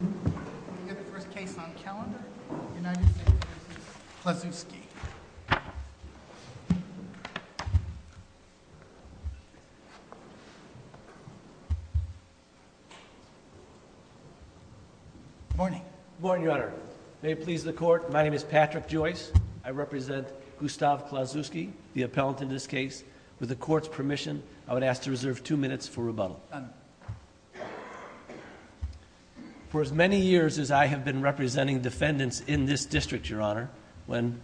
Good morning, Your Honor. May it please the Court, my name is Patrick Joyce. I represent Gustav Klauszewski, the appellant in this case. With the Court's permission, I would ask to reserve two minutes for rebuttal. For as many years as I have been representing defendants in this district, Your Honor, when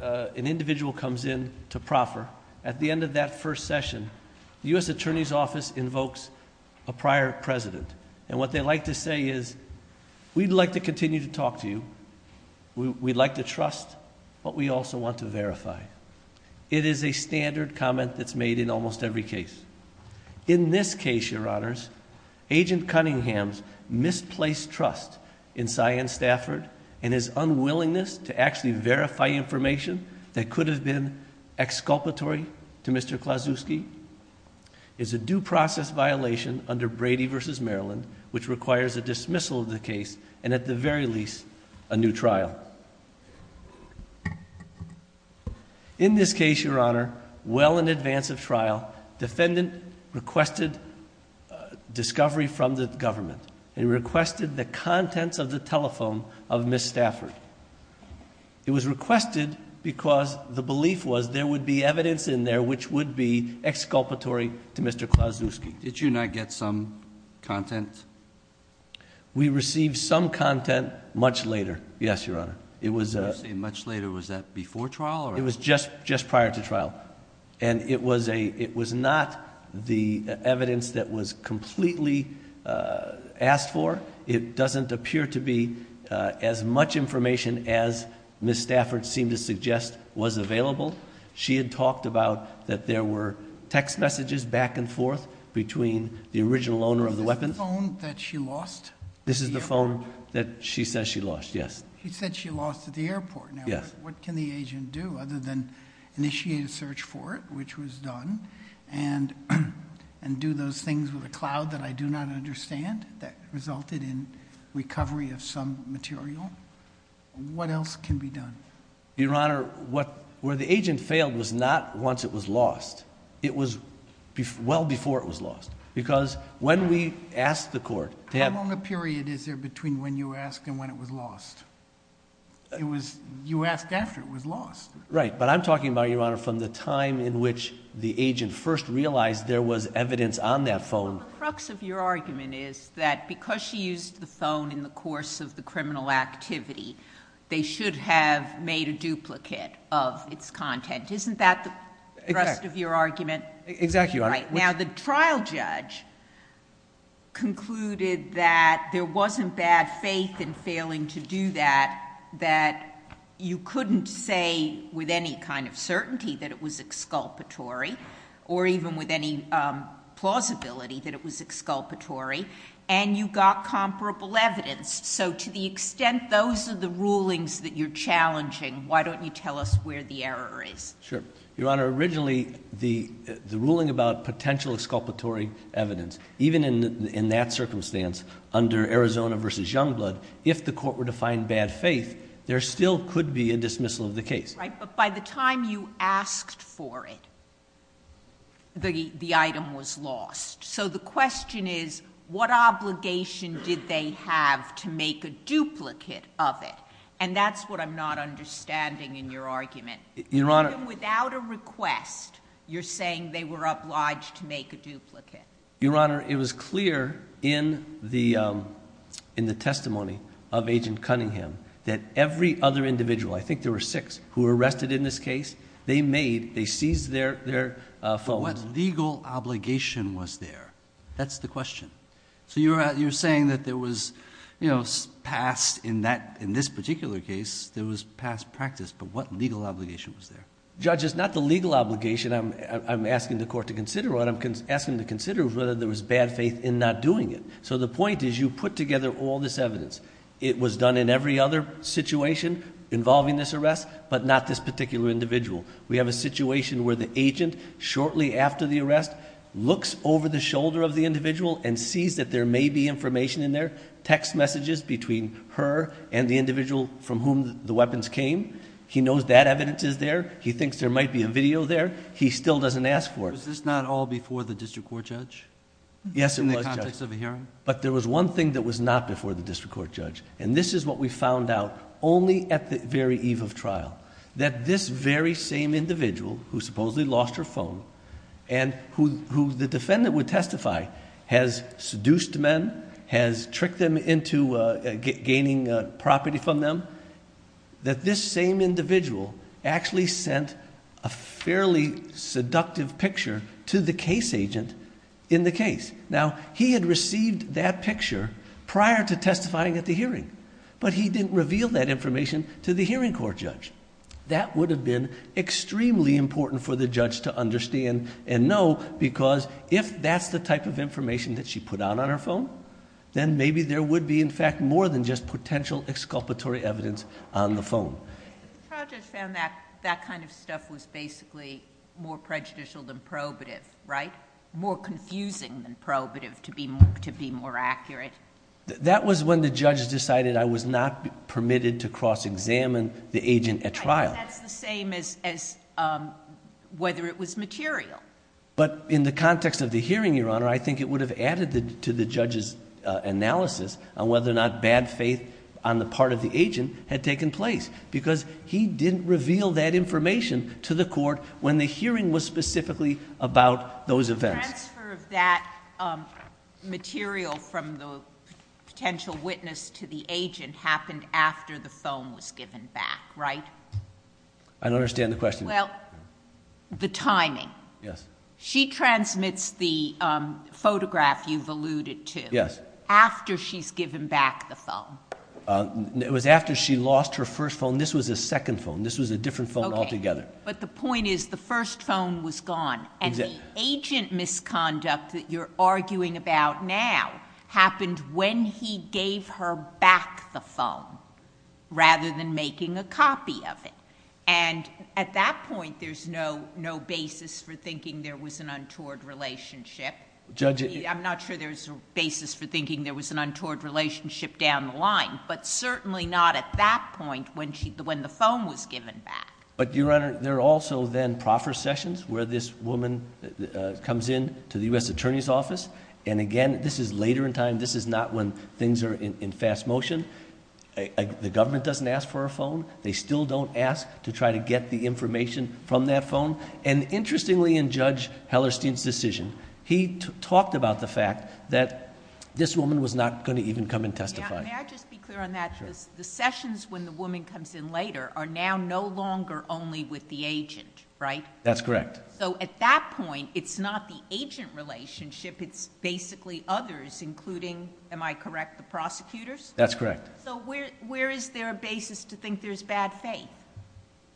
an individual comes in to proffer, at the end of that first session, the U.S. Attorney's Office invokes a prior president. What they like to say is, we'd like to continue to talk to you, we'd like to trust, but we also want to verify. It is a standard comment that's made in almost every case. In this case, Your Honors, Agent Cunningham's misplaced trust in Cyan Stafford and his unwillingness to actually verify information that could have been exculpatory to Mr. Klauszewski is a due process violation under Brady v. Maryland, which requires a dismissal of the case and at the very least, a new trial. In this case, Your Honor, well in advance of trial, defendant requested discovery from the government. He requested the contents of the telephone of Ms. Stafford. It was requested because the belief was there would be evidence in there which would be exculpatory to Mr. Klauszewski. Did you not get some content? We received some content much later. Yes, Your Honor. You say much later. Was that before trial? It was just prior to trial. It was not the evidence that was completely asked for. It doesn't appear to be as much information as Ms. Stafford seemed to suggest was available. She had talked about that there were text messages back and forth between the original owner of the weapons... Is this the phone that she lost? This is the phone that she says she lost, yes. She said she lost it at the airport. What can the agent do other than initiate a search for it, which was done, and do those things with a cloud that I do not understand that resulted in recovery of some material? What else can be done? Your Honor, where the agent failed was not once it was lost. It was well before it was lost. What period is there between when you ask and when it was lost? You ask after it was lost. Right, but I'm talking about, Your Honor, from the time in which the agent first realized there was evidence on that phone... The crux of your argument is that because she used the phone in the course of the criminal activity, they should have made a duplicate of its content. Isn't that the crux of your argument? Exactly, Your Honor. Now, the trial judge concluded that there wasn't bad faith in failing to do that, that you couldn't say with any kind of certainty that it was exculpatory or even with any plausibility that it was exculpatory, and you got comparable evidence. To the extent those are the rulings that you're challenging, why don't you tell us where the error is? Sure. Your Honor, originally, the ruling about potential exculpatory evidence, even in that circumstance, under Arizona v. Youngblood, if the court were to find bad faith, there still could be a dismissal of the case. Right, but by the time you asked for it, the item was lost. So the question is, what obligation did they have to make a duplicate of it? And that's what I'm not understanding in your argument. Your Honor... Even without a request, you're saying they were obliged to make a duplicate. Your Honor, it was clear in the testimony of Agent Cunningham that every other individual, I think there were six, who were arrested in this case, they made, they seized their... What legal obligation was there? That's the question. You're saying that there was past practice. In this particular case, there was past practice, but what legal obligation was there? Judge, it's not the legal obligation I'm asking the court to consider. What I'm asking them to consider is whether there was bad faith in not doing it. So the point is, you put together all this evidence. It was done in every other situation involving this arrest, but not this particular individual. We have a situation where the agent, shortly after the arrest, looks over the shoulder of the individual and sees that there may be information in there, text messages between her and the individual from whom the weapons came. He knows that evidence is there. He thinks there might be a video there. He still doesn't ask for it. Was this not all before the district court judge? Yes, it was, Judge. In the context of a hearing? But there was one thing that was not before the district court judge, and this is what we found out only at the very eve of trial, that this very same individual who supposedly lost her phone, and who the defendant would testify has seduced men, has tricked them into gaining property from them, that this same individual actually sent a fairly seductive picture to the case agent in the case. Now, he had received that picture prior to testifying at the hearing, but he didn't reveal that information to the hearing court judge. That would have been extremely important for the judge to understand and know, because if that's the type of information that she put out on her phone, then maybe there would be, in fact, more than just potential exculpatory evidence on the phone. The trial judge found that that kind of stuff was basically more prejudicial than probative, right? More confusing than probative, to be more accurate. That was when the judge decided I was not permitted to cross-examine the agent at trial. But that's the same as whether it was material. But in the context of the hearing, Your Honor, I think it would have added to the judge's analysis on whether or not bad faith on the part of the agent had taken place, because he didn't reveal that information to the court when the hearing was specifically about those events. The transfer of that material from the potential witness to the agent happened after the phone was given back, right? I don't understand the question. Well, the timing. She transmits the photograph you've alluded to after she's given back the phone. It was after she lost her first phone. This was a second phone. This was a different phone altogether. But the point is the first phone was gone, and the agent misconduct that you're arguing about now happened when he gave her back the phone, rather than making a copy of it. And at that point, there's no basis for thinking there was an untoward relationship. I'm not sure there's a basis for thinking there was an untoward relationship down the line, but certainly not at that point when the phone was given back. But Your Honor, there are also then proffer sessions where this woman comes in to the U.S. Attorney's Office, and again, this is later in time. This is not when things are in fast motion. The government doesn't ask for a phone. They still don't ask to try to get the information from that phone. Interestingly, in Judge Hellerstein's decision, he talked about the fact that this woman was not going to even come and testify. May I just be clear on that? Sure. The sessions when the woman comes in later are now no longer only with the agent, right? That's correct. So at that point, it's not the agent relationship. It's basically others, including, am I correct, the prosecutors? That's correct. So where is there a basis to think there's bad faith?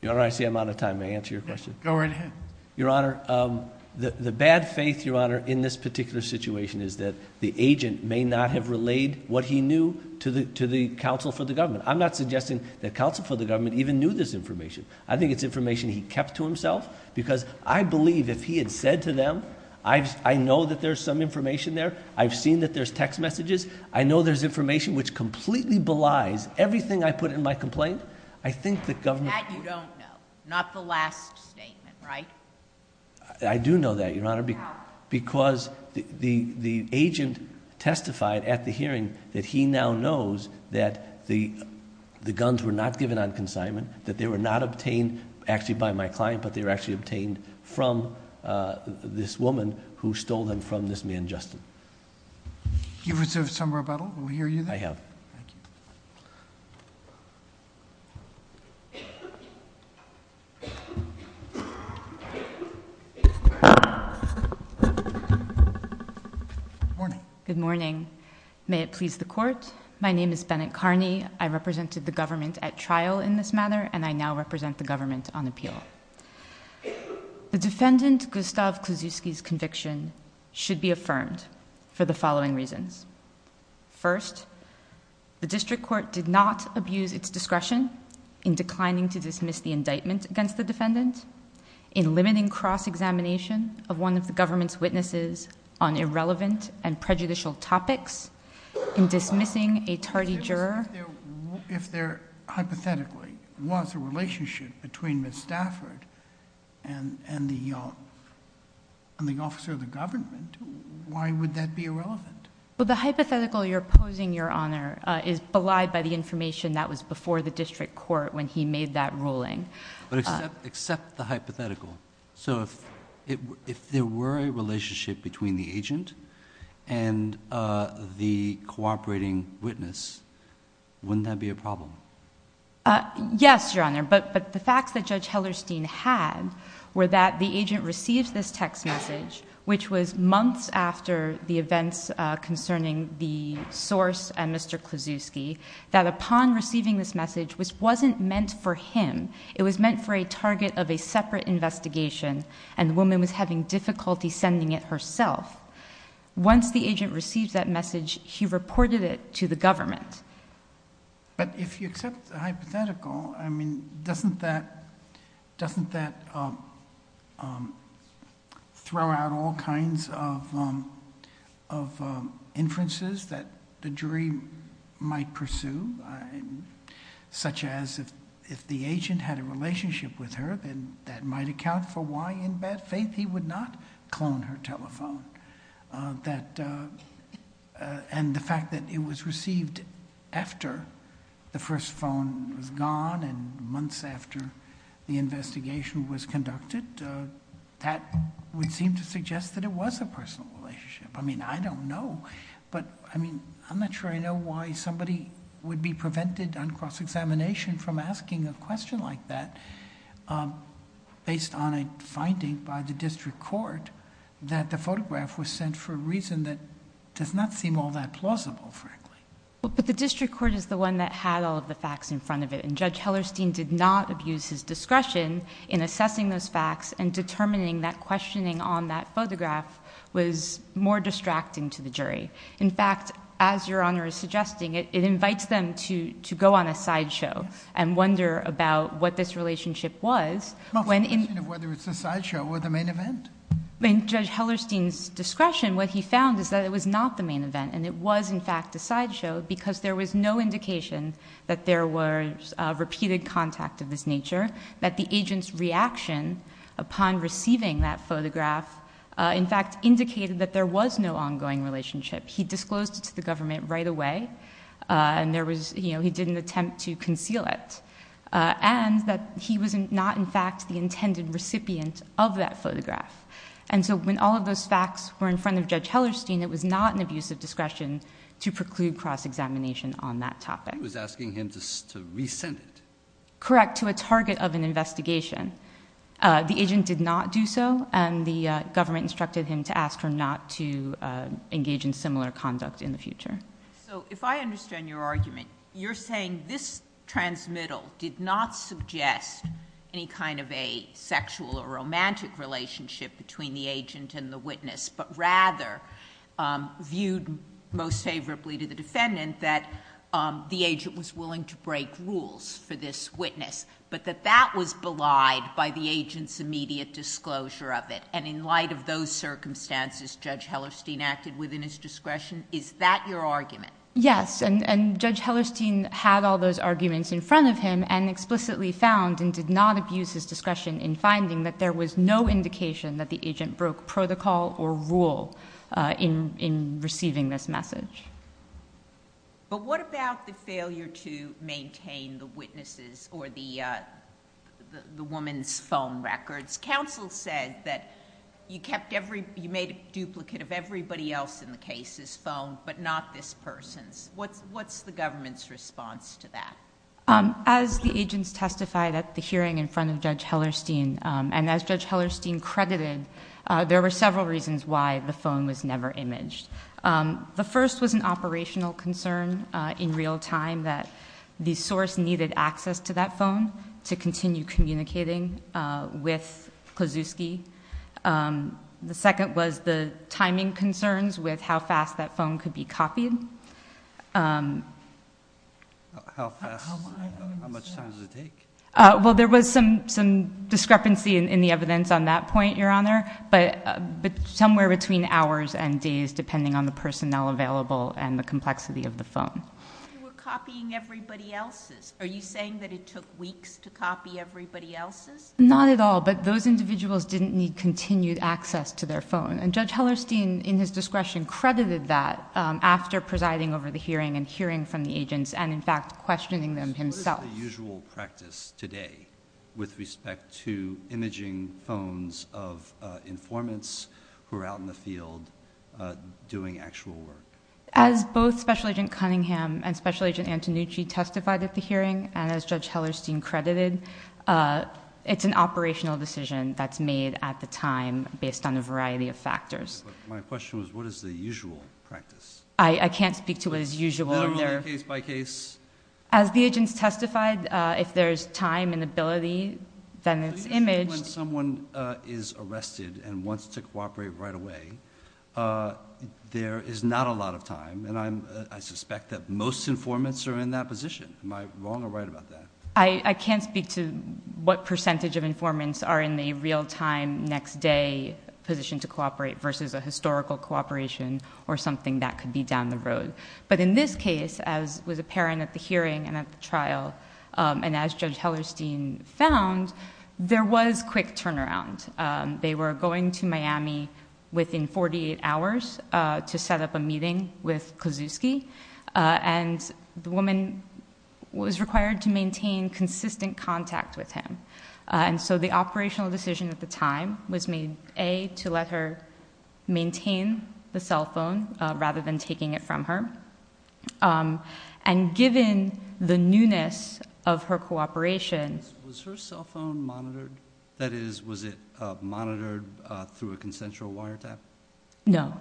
Your Honor, I see I'm out of time. May I answer your question? Go right ahead. Your Honor, the bad faith, Your Honor, in this particular situation is that the agent may not have relayed what he knew to the counsel for the government. I'm not suggesting that counsel for the government even knew this information. I think it's information he kept to himself, because I believe if he had said to them, I know that there's some information there, I've seen that there's text messages, I know there's information which completely belies everything I put in my complaint, I think the government would- That you don't know. Not the last statement, right? I do know that, Your Honor, because the agent testified at the hearing that he now knows that the guns were not given on consignment, that they were not obtained actually by my client, but they were actually obtained from this woman who stole them from this man, Justin. You received some rebuttal? Will we hear you then? I have. Thank you. Good morning. May it please the Court. My name is Bennett Carney. I represented the government at trial in this matter, and I now represent the government on appeal. The defendant, Gustav Klusiewski's conviction should be affirmed for the following reasons. First, the district court did not abuse its discretion in declining to dismiss the indictment against the defendant, in limiting cross-examination of one of the government's witnesses on irrelevant and prejudicial topics, in dismissing a tardy juror... If there hypothetically was a relationship between Ms. Stafford and the officer of the government, why would that be irrelevant? The hypothetical you're posing, Your Honor, is belied by the information that was before the district court when he made that ruling. But except the hypothetical. So if there were a relationship between the agent and the cooperating witness, wouldn't that be a problem? Yes, Your Honor, but the facts that Judge Hellerstein had were that the agent received this text message, which was months after the events concerning the source and Mr. Klusiewski, that upon receiving this message, which wasn't meant for him, it was meant for a target of a separate investigation, and the woman was having difficulty sending it herself. Once the agent received that message, he reported it to the government. But if you accept the hypothetical, I mean, doesn't that throw out all kinds of inferences that the jury might pursue, such as if the agent had a relationship with her, then that might account for why, in bad faith, he would not clone her telephone. And the fact that it was received after the first phone was gone and months after the investigation was conducted, that would seem to suggest that it was a personal relationship. I mean, I am not sure I know why somebody would be prevented on cross-examination from asking a question like that, based on a finding by the district court that the photograph was sent for a reason that does not seem all that plausible, frankly. The district court is the one that had all of the facts in front of it, and Judge Hellerstein did not abuse his discretion in assessing those facts and determining that questioning on that photograph was more distracting to the jury. In fact, as Your Honor is suggesting, it invites them to go on a sideshow and wonder about what this relationship was. It's not a question of whether it's a sideshow or the main event. In Judge Hellerstein's discretion, what he found is that it was not the main event, and it was, in fact, a sideshow, because there was no indication that there was repeated contact of this nature, that the agent's reaction upon receiving that photograph, in fact, indicated that there was no ongoing relationship. He disclosed it to the government right away, and he didn't attempt to conceal it, and that he was not, in fact, the intended recipient of that photograph. And so when all of those facts were in front of Judge Hellerstein, it was not an abuse of discretion to preclude cross-examination on that topic. He was asking him to resend it. Correct, to a target of an investigation. The agent did not do so, and the government instructed him to ask her not to engage in similar conduct in the future. If I understand your argument, you're saying this transmittal did not suggest any kind of a sexual or romantic relationship between the agent and the witness, but rather viewed most favorably to the defendant that the agent was willing to break rules for this witness, but that that was belied by the agent's immediate disclosure of it, and in light of those circumstances Judge Hellerstein acted within his discretion? Is that your argument? Yes, and Judge Hellerstein had all those arguments in front of him and explicitly found and did not abuse his discretion in finding that there was no indication that the agent broke protocol or rule in receiving this message. But what about the failure to maintain the witness's or the woman's phone records? Counsel said that you made a duplicate of everybody else in the case's phone, but not this person's. What's the government's response to that? As the agents testified at the hearing in front of Judge Hellerstein, and as Judge Hellerstein credited, there were several reasons why the phone was never imaged. The first was an operational concern in real time that the source needed access to that phone to continue communicating with Kozlowski. The second was the timing concerns with how fast that phone could be copied. How fast? How much time does it take? There was some discrepancy in the evidence on that point, Your Honor, but somewhere between hours and days depending on the personnel available and the complexity of the phone. You were copying everybody else's. Are you saying that it took weeks to copy everybody else's? Not at all, but those individuals didn't need continued access to their phone, and Judge Hellerstein, in his discretion, credited that after presiding over the hearing and hearing from the agents and in fact questioning them himself. What is the usual practice today with respect to imaging phones of informants who are out in the field doing actual work? As both Special Agent Cunningham and Special Agent Antonucci testified at the hearing and as Judge Hellerstein credited, it's an operational decision that's made at the time based on a variety of factors. My question was, what is the usual practice? I can't speak to what is usual in there. Minimally, case by case? As the agents testified, if there's time and ability, then it's imaged... So you're saying when someone is arrested and wants to cooperate right away, there is not a lot of time, and I suspect that most informants are in that position. Am I wrong or right about that? I can't speak to what percentage of informants are in the real time, next day position to cooperate versus a historical cooperation or something that could be down the road. But in this case, as was apparent at the hearing and at the trial, and as Judge Hellerstein found, there was quick turnaround. They were going to Miami within 48 hours to set up a meeting with Kozuski, and the woman was required to maintain consistent contact with him. The operational decision at the time was made, A, to let her maintain the cell phone rather than taking it from her, and given the newness of her cooperation... Was her cell phone monitored? That is, was it monitored through a consensual wiretap? No.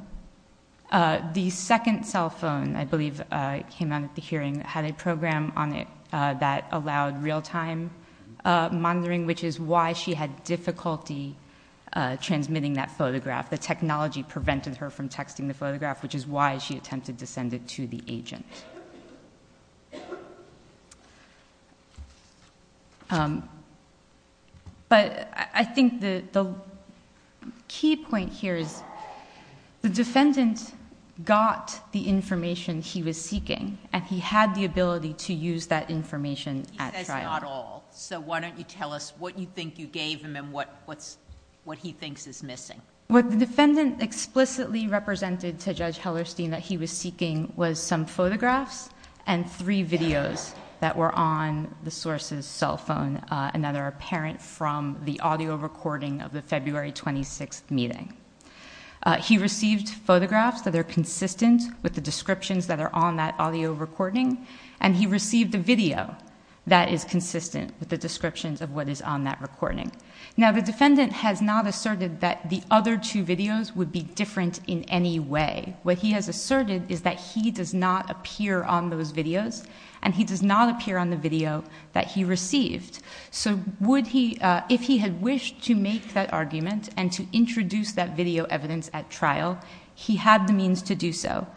The second cell phone, I believe, came out at the hearing, had a program on it that allowed real time monitoring, which is why she had difficulty transmitting that photograph. The technology prevented her from texting the photograph, which is why she attempted to send it to the agent. But I think the key point here is the defendant got the information he was seeking, and he had the ability to use that information at trial. He says not all, so why don't you tell us what you think you gave him and what he thinks is missing? What the defendant explicitly represented to Judge Hellerstein that he was seeking was some photographs and three videos that were on the source's cell phone, and that are apparent from the audio recording of the February 26th meeting. He received photographs that are consistent with the descriptions that are on that audio recording, and he received a video that is consistent with the descriptions of what is on that recording. Now, the defendant has not asserted that the other two videos would be different in any way. What he has asserted is that he does not appear on those videos, and he does not appear on the video that he received. So if he had wished to make that argument and to introduce that video evidence at trial, he had the means to do so.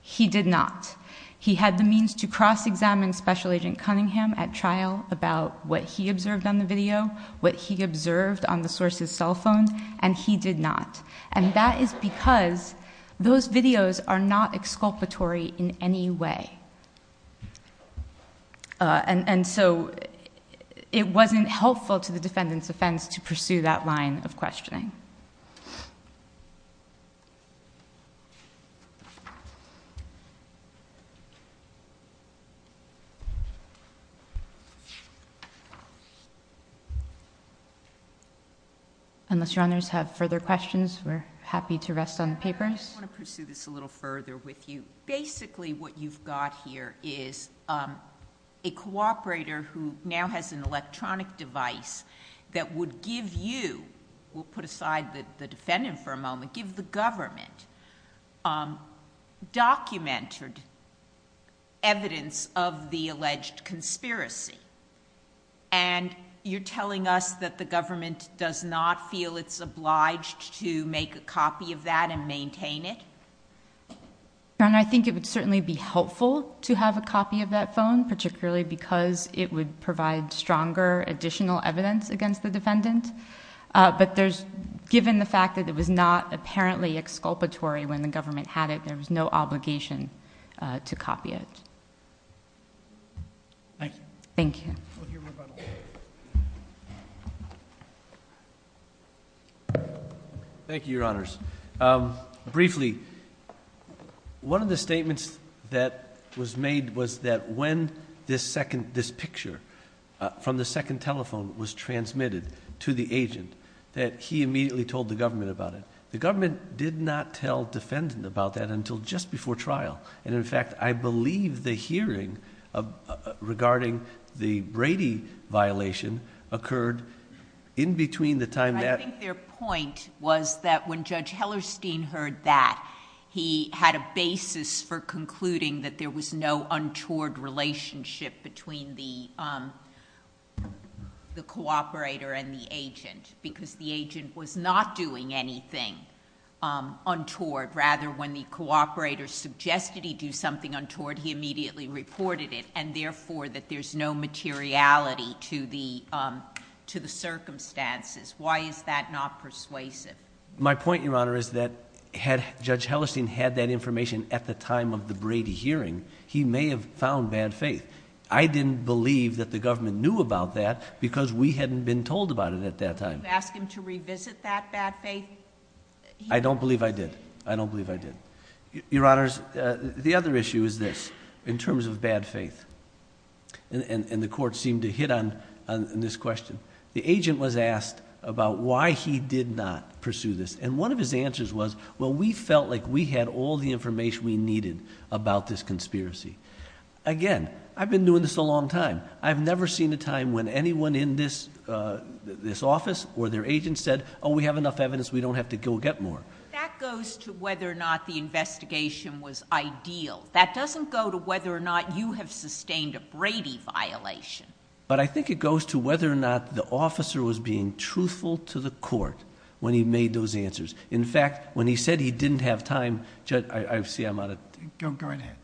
He did not. He had the means to cross-examine Special Agent Cunningham at trial about what he observed on the video, what he observed on the source's cell phone, and he did not. And that is because those videos are not exculpatory in any way. And so, it wasn't helpful to the defendant's offense to pursue that line of questioning. Unless Your Honors have further questions, we're happy to rest on the papers. I want to pursue this a little further with you. Basically, what you've got here is a cooperator who now has an electronic device that would give you, we'll put aside the defendant for a moment, give the government documented evidence of the alleged conspiracy, and you're telling us that the government does not feel it's obliged to make a copy of that and maintain it? And I think it would certainly be helpful to have a copy of that phone, particularly because it would provide stronger additional evidence against the defendant. But there's, given the fact that it was not apparently exculpatory when the government had it, there was no obligation to copy it. Thank you. Thank you. Thank you, Your Honors. Briefly, one of the statements that was made was that when this picture from the second telephone was transmitted to the agent, that he immediately told the government about it. The government did not tell defendant about that until just before trial. And in fact, I believe the hearing regarding the Brady violation occurred in between the time that... Judge Hellerstein heard that. He had a basis for concluding that there was no untoward relationship between the cooperator and the agent, because the agent was not doing anything untoward. Rather, when the cooperator suggested he do something untoward, he immediately reported it, and therefore, that there's no materiality to the circumstances. Why is that not persuasive? My point, Your Honor, is that had Judge Hellerstein had that information at the time of the Brady hearing, he may have found bad faith. I didn't believe that the government knew about that, because we hadn't been told about it at that time. Did you ask him to revisit that bad faith? I don't believe I did. I don't believe I did. Your Honors, the other issue is this, in terms of bad faith, and the court seemed to hit on this question. The agent was asked about why he did not pursue this, and one of his answers was, well, we felt like we had all the information we needed about this conspiracy. Again, I've been doing this a long time. I've never seen a time when anyone in this office or their agent said, oh, we have enough evidence. We don't have to go get more. That goes to whether or not the investigation was ideal. That doesn't go to whether or not you have sustained a Brady violation. But I think it goes to whether or not the officer was being truthful to the court when he made those answers. In fact, when he said he didn't have time... Judge, I see I'm out of... Go right ahead.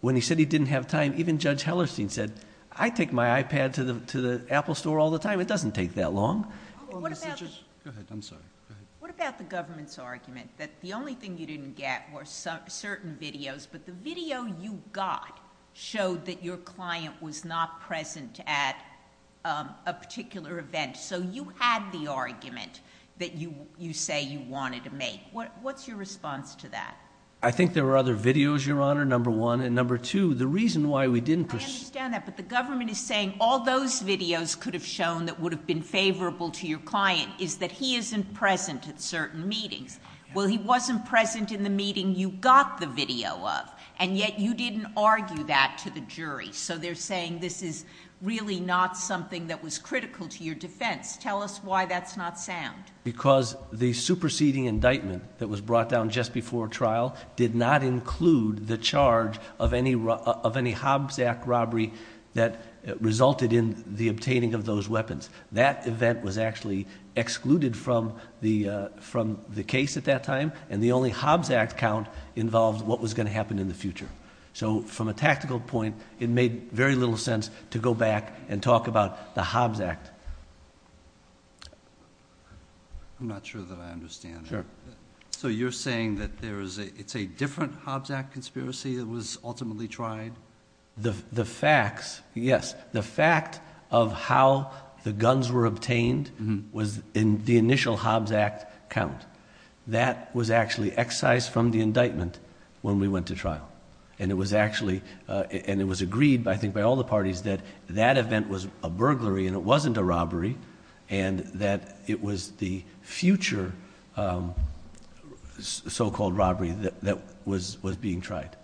When he said he didn't have time, even Judge Hellerstein said, I take my iPad to the Apple store all the time. It doesn't take that long. What about... Go ahead. I'm sorry. Go ahead. What about the government's argument that the only thing you didn't get were certain videos, but the video you got showed that your client was not present at a particular event. So you had the argument that you say you wanted to make. What's your response to that? I think there were other videos, Your Honor, number one. And number two, the reason why we didn't... I understand that. But the government is saying all those videos could have shown that would have been favorable to your client is that he isn't present at certain meetings. Well, he wasn't present in the meeting you got the video of, and yet you didn't argue that to the jury. So they're saying this is really not something that was critical to your defense. Tell us why that's not sound. Because the superseding indictment that was brought down just before trial did not include the charge of any Hobbs Act robbery that resulted in the obtaining of those weapons. That event was actually excluded from the case at that time, and the only Hobbs Act count involved what was going to happen in the future. So from a tactical point, it made very little sense to go back and talk about the Hobbs Act. I'm not sure that I understand. Sure. So you're saying that it's a different Hobbs Act conspiracy that was ultimately tried? The facts, yes. The fact of how the guns were obtained was in the initial Hobbs Act count. That was actually excised from the indictment when we went to trial. And it was agreed, I think, by all the parties that that event was a burglary and it wasn't a robbery, and that it was the future so-called robbery that was being tried.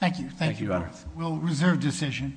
Thank you. Thank you, Your Honor. We'll reserve decision.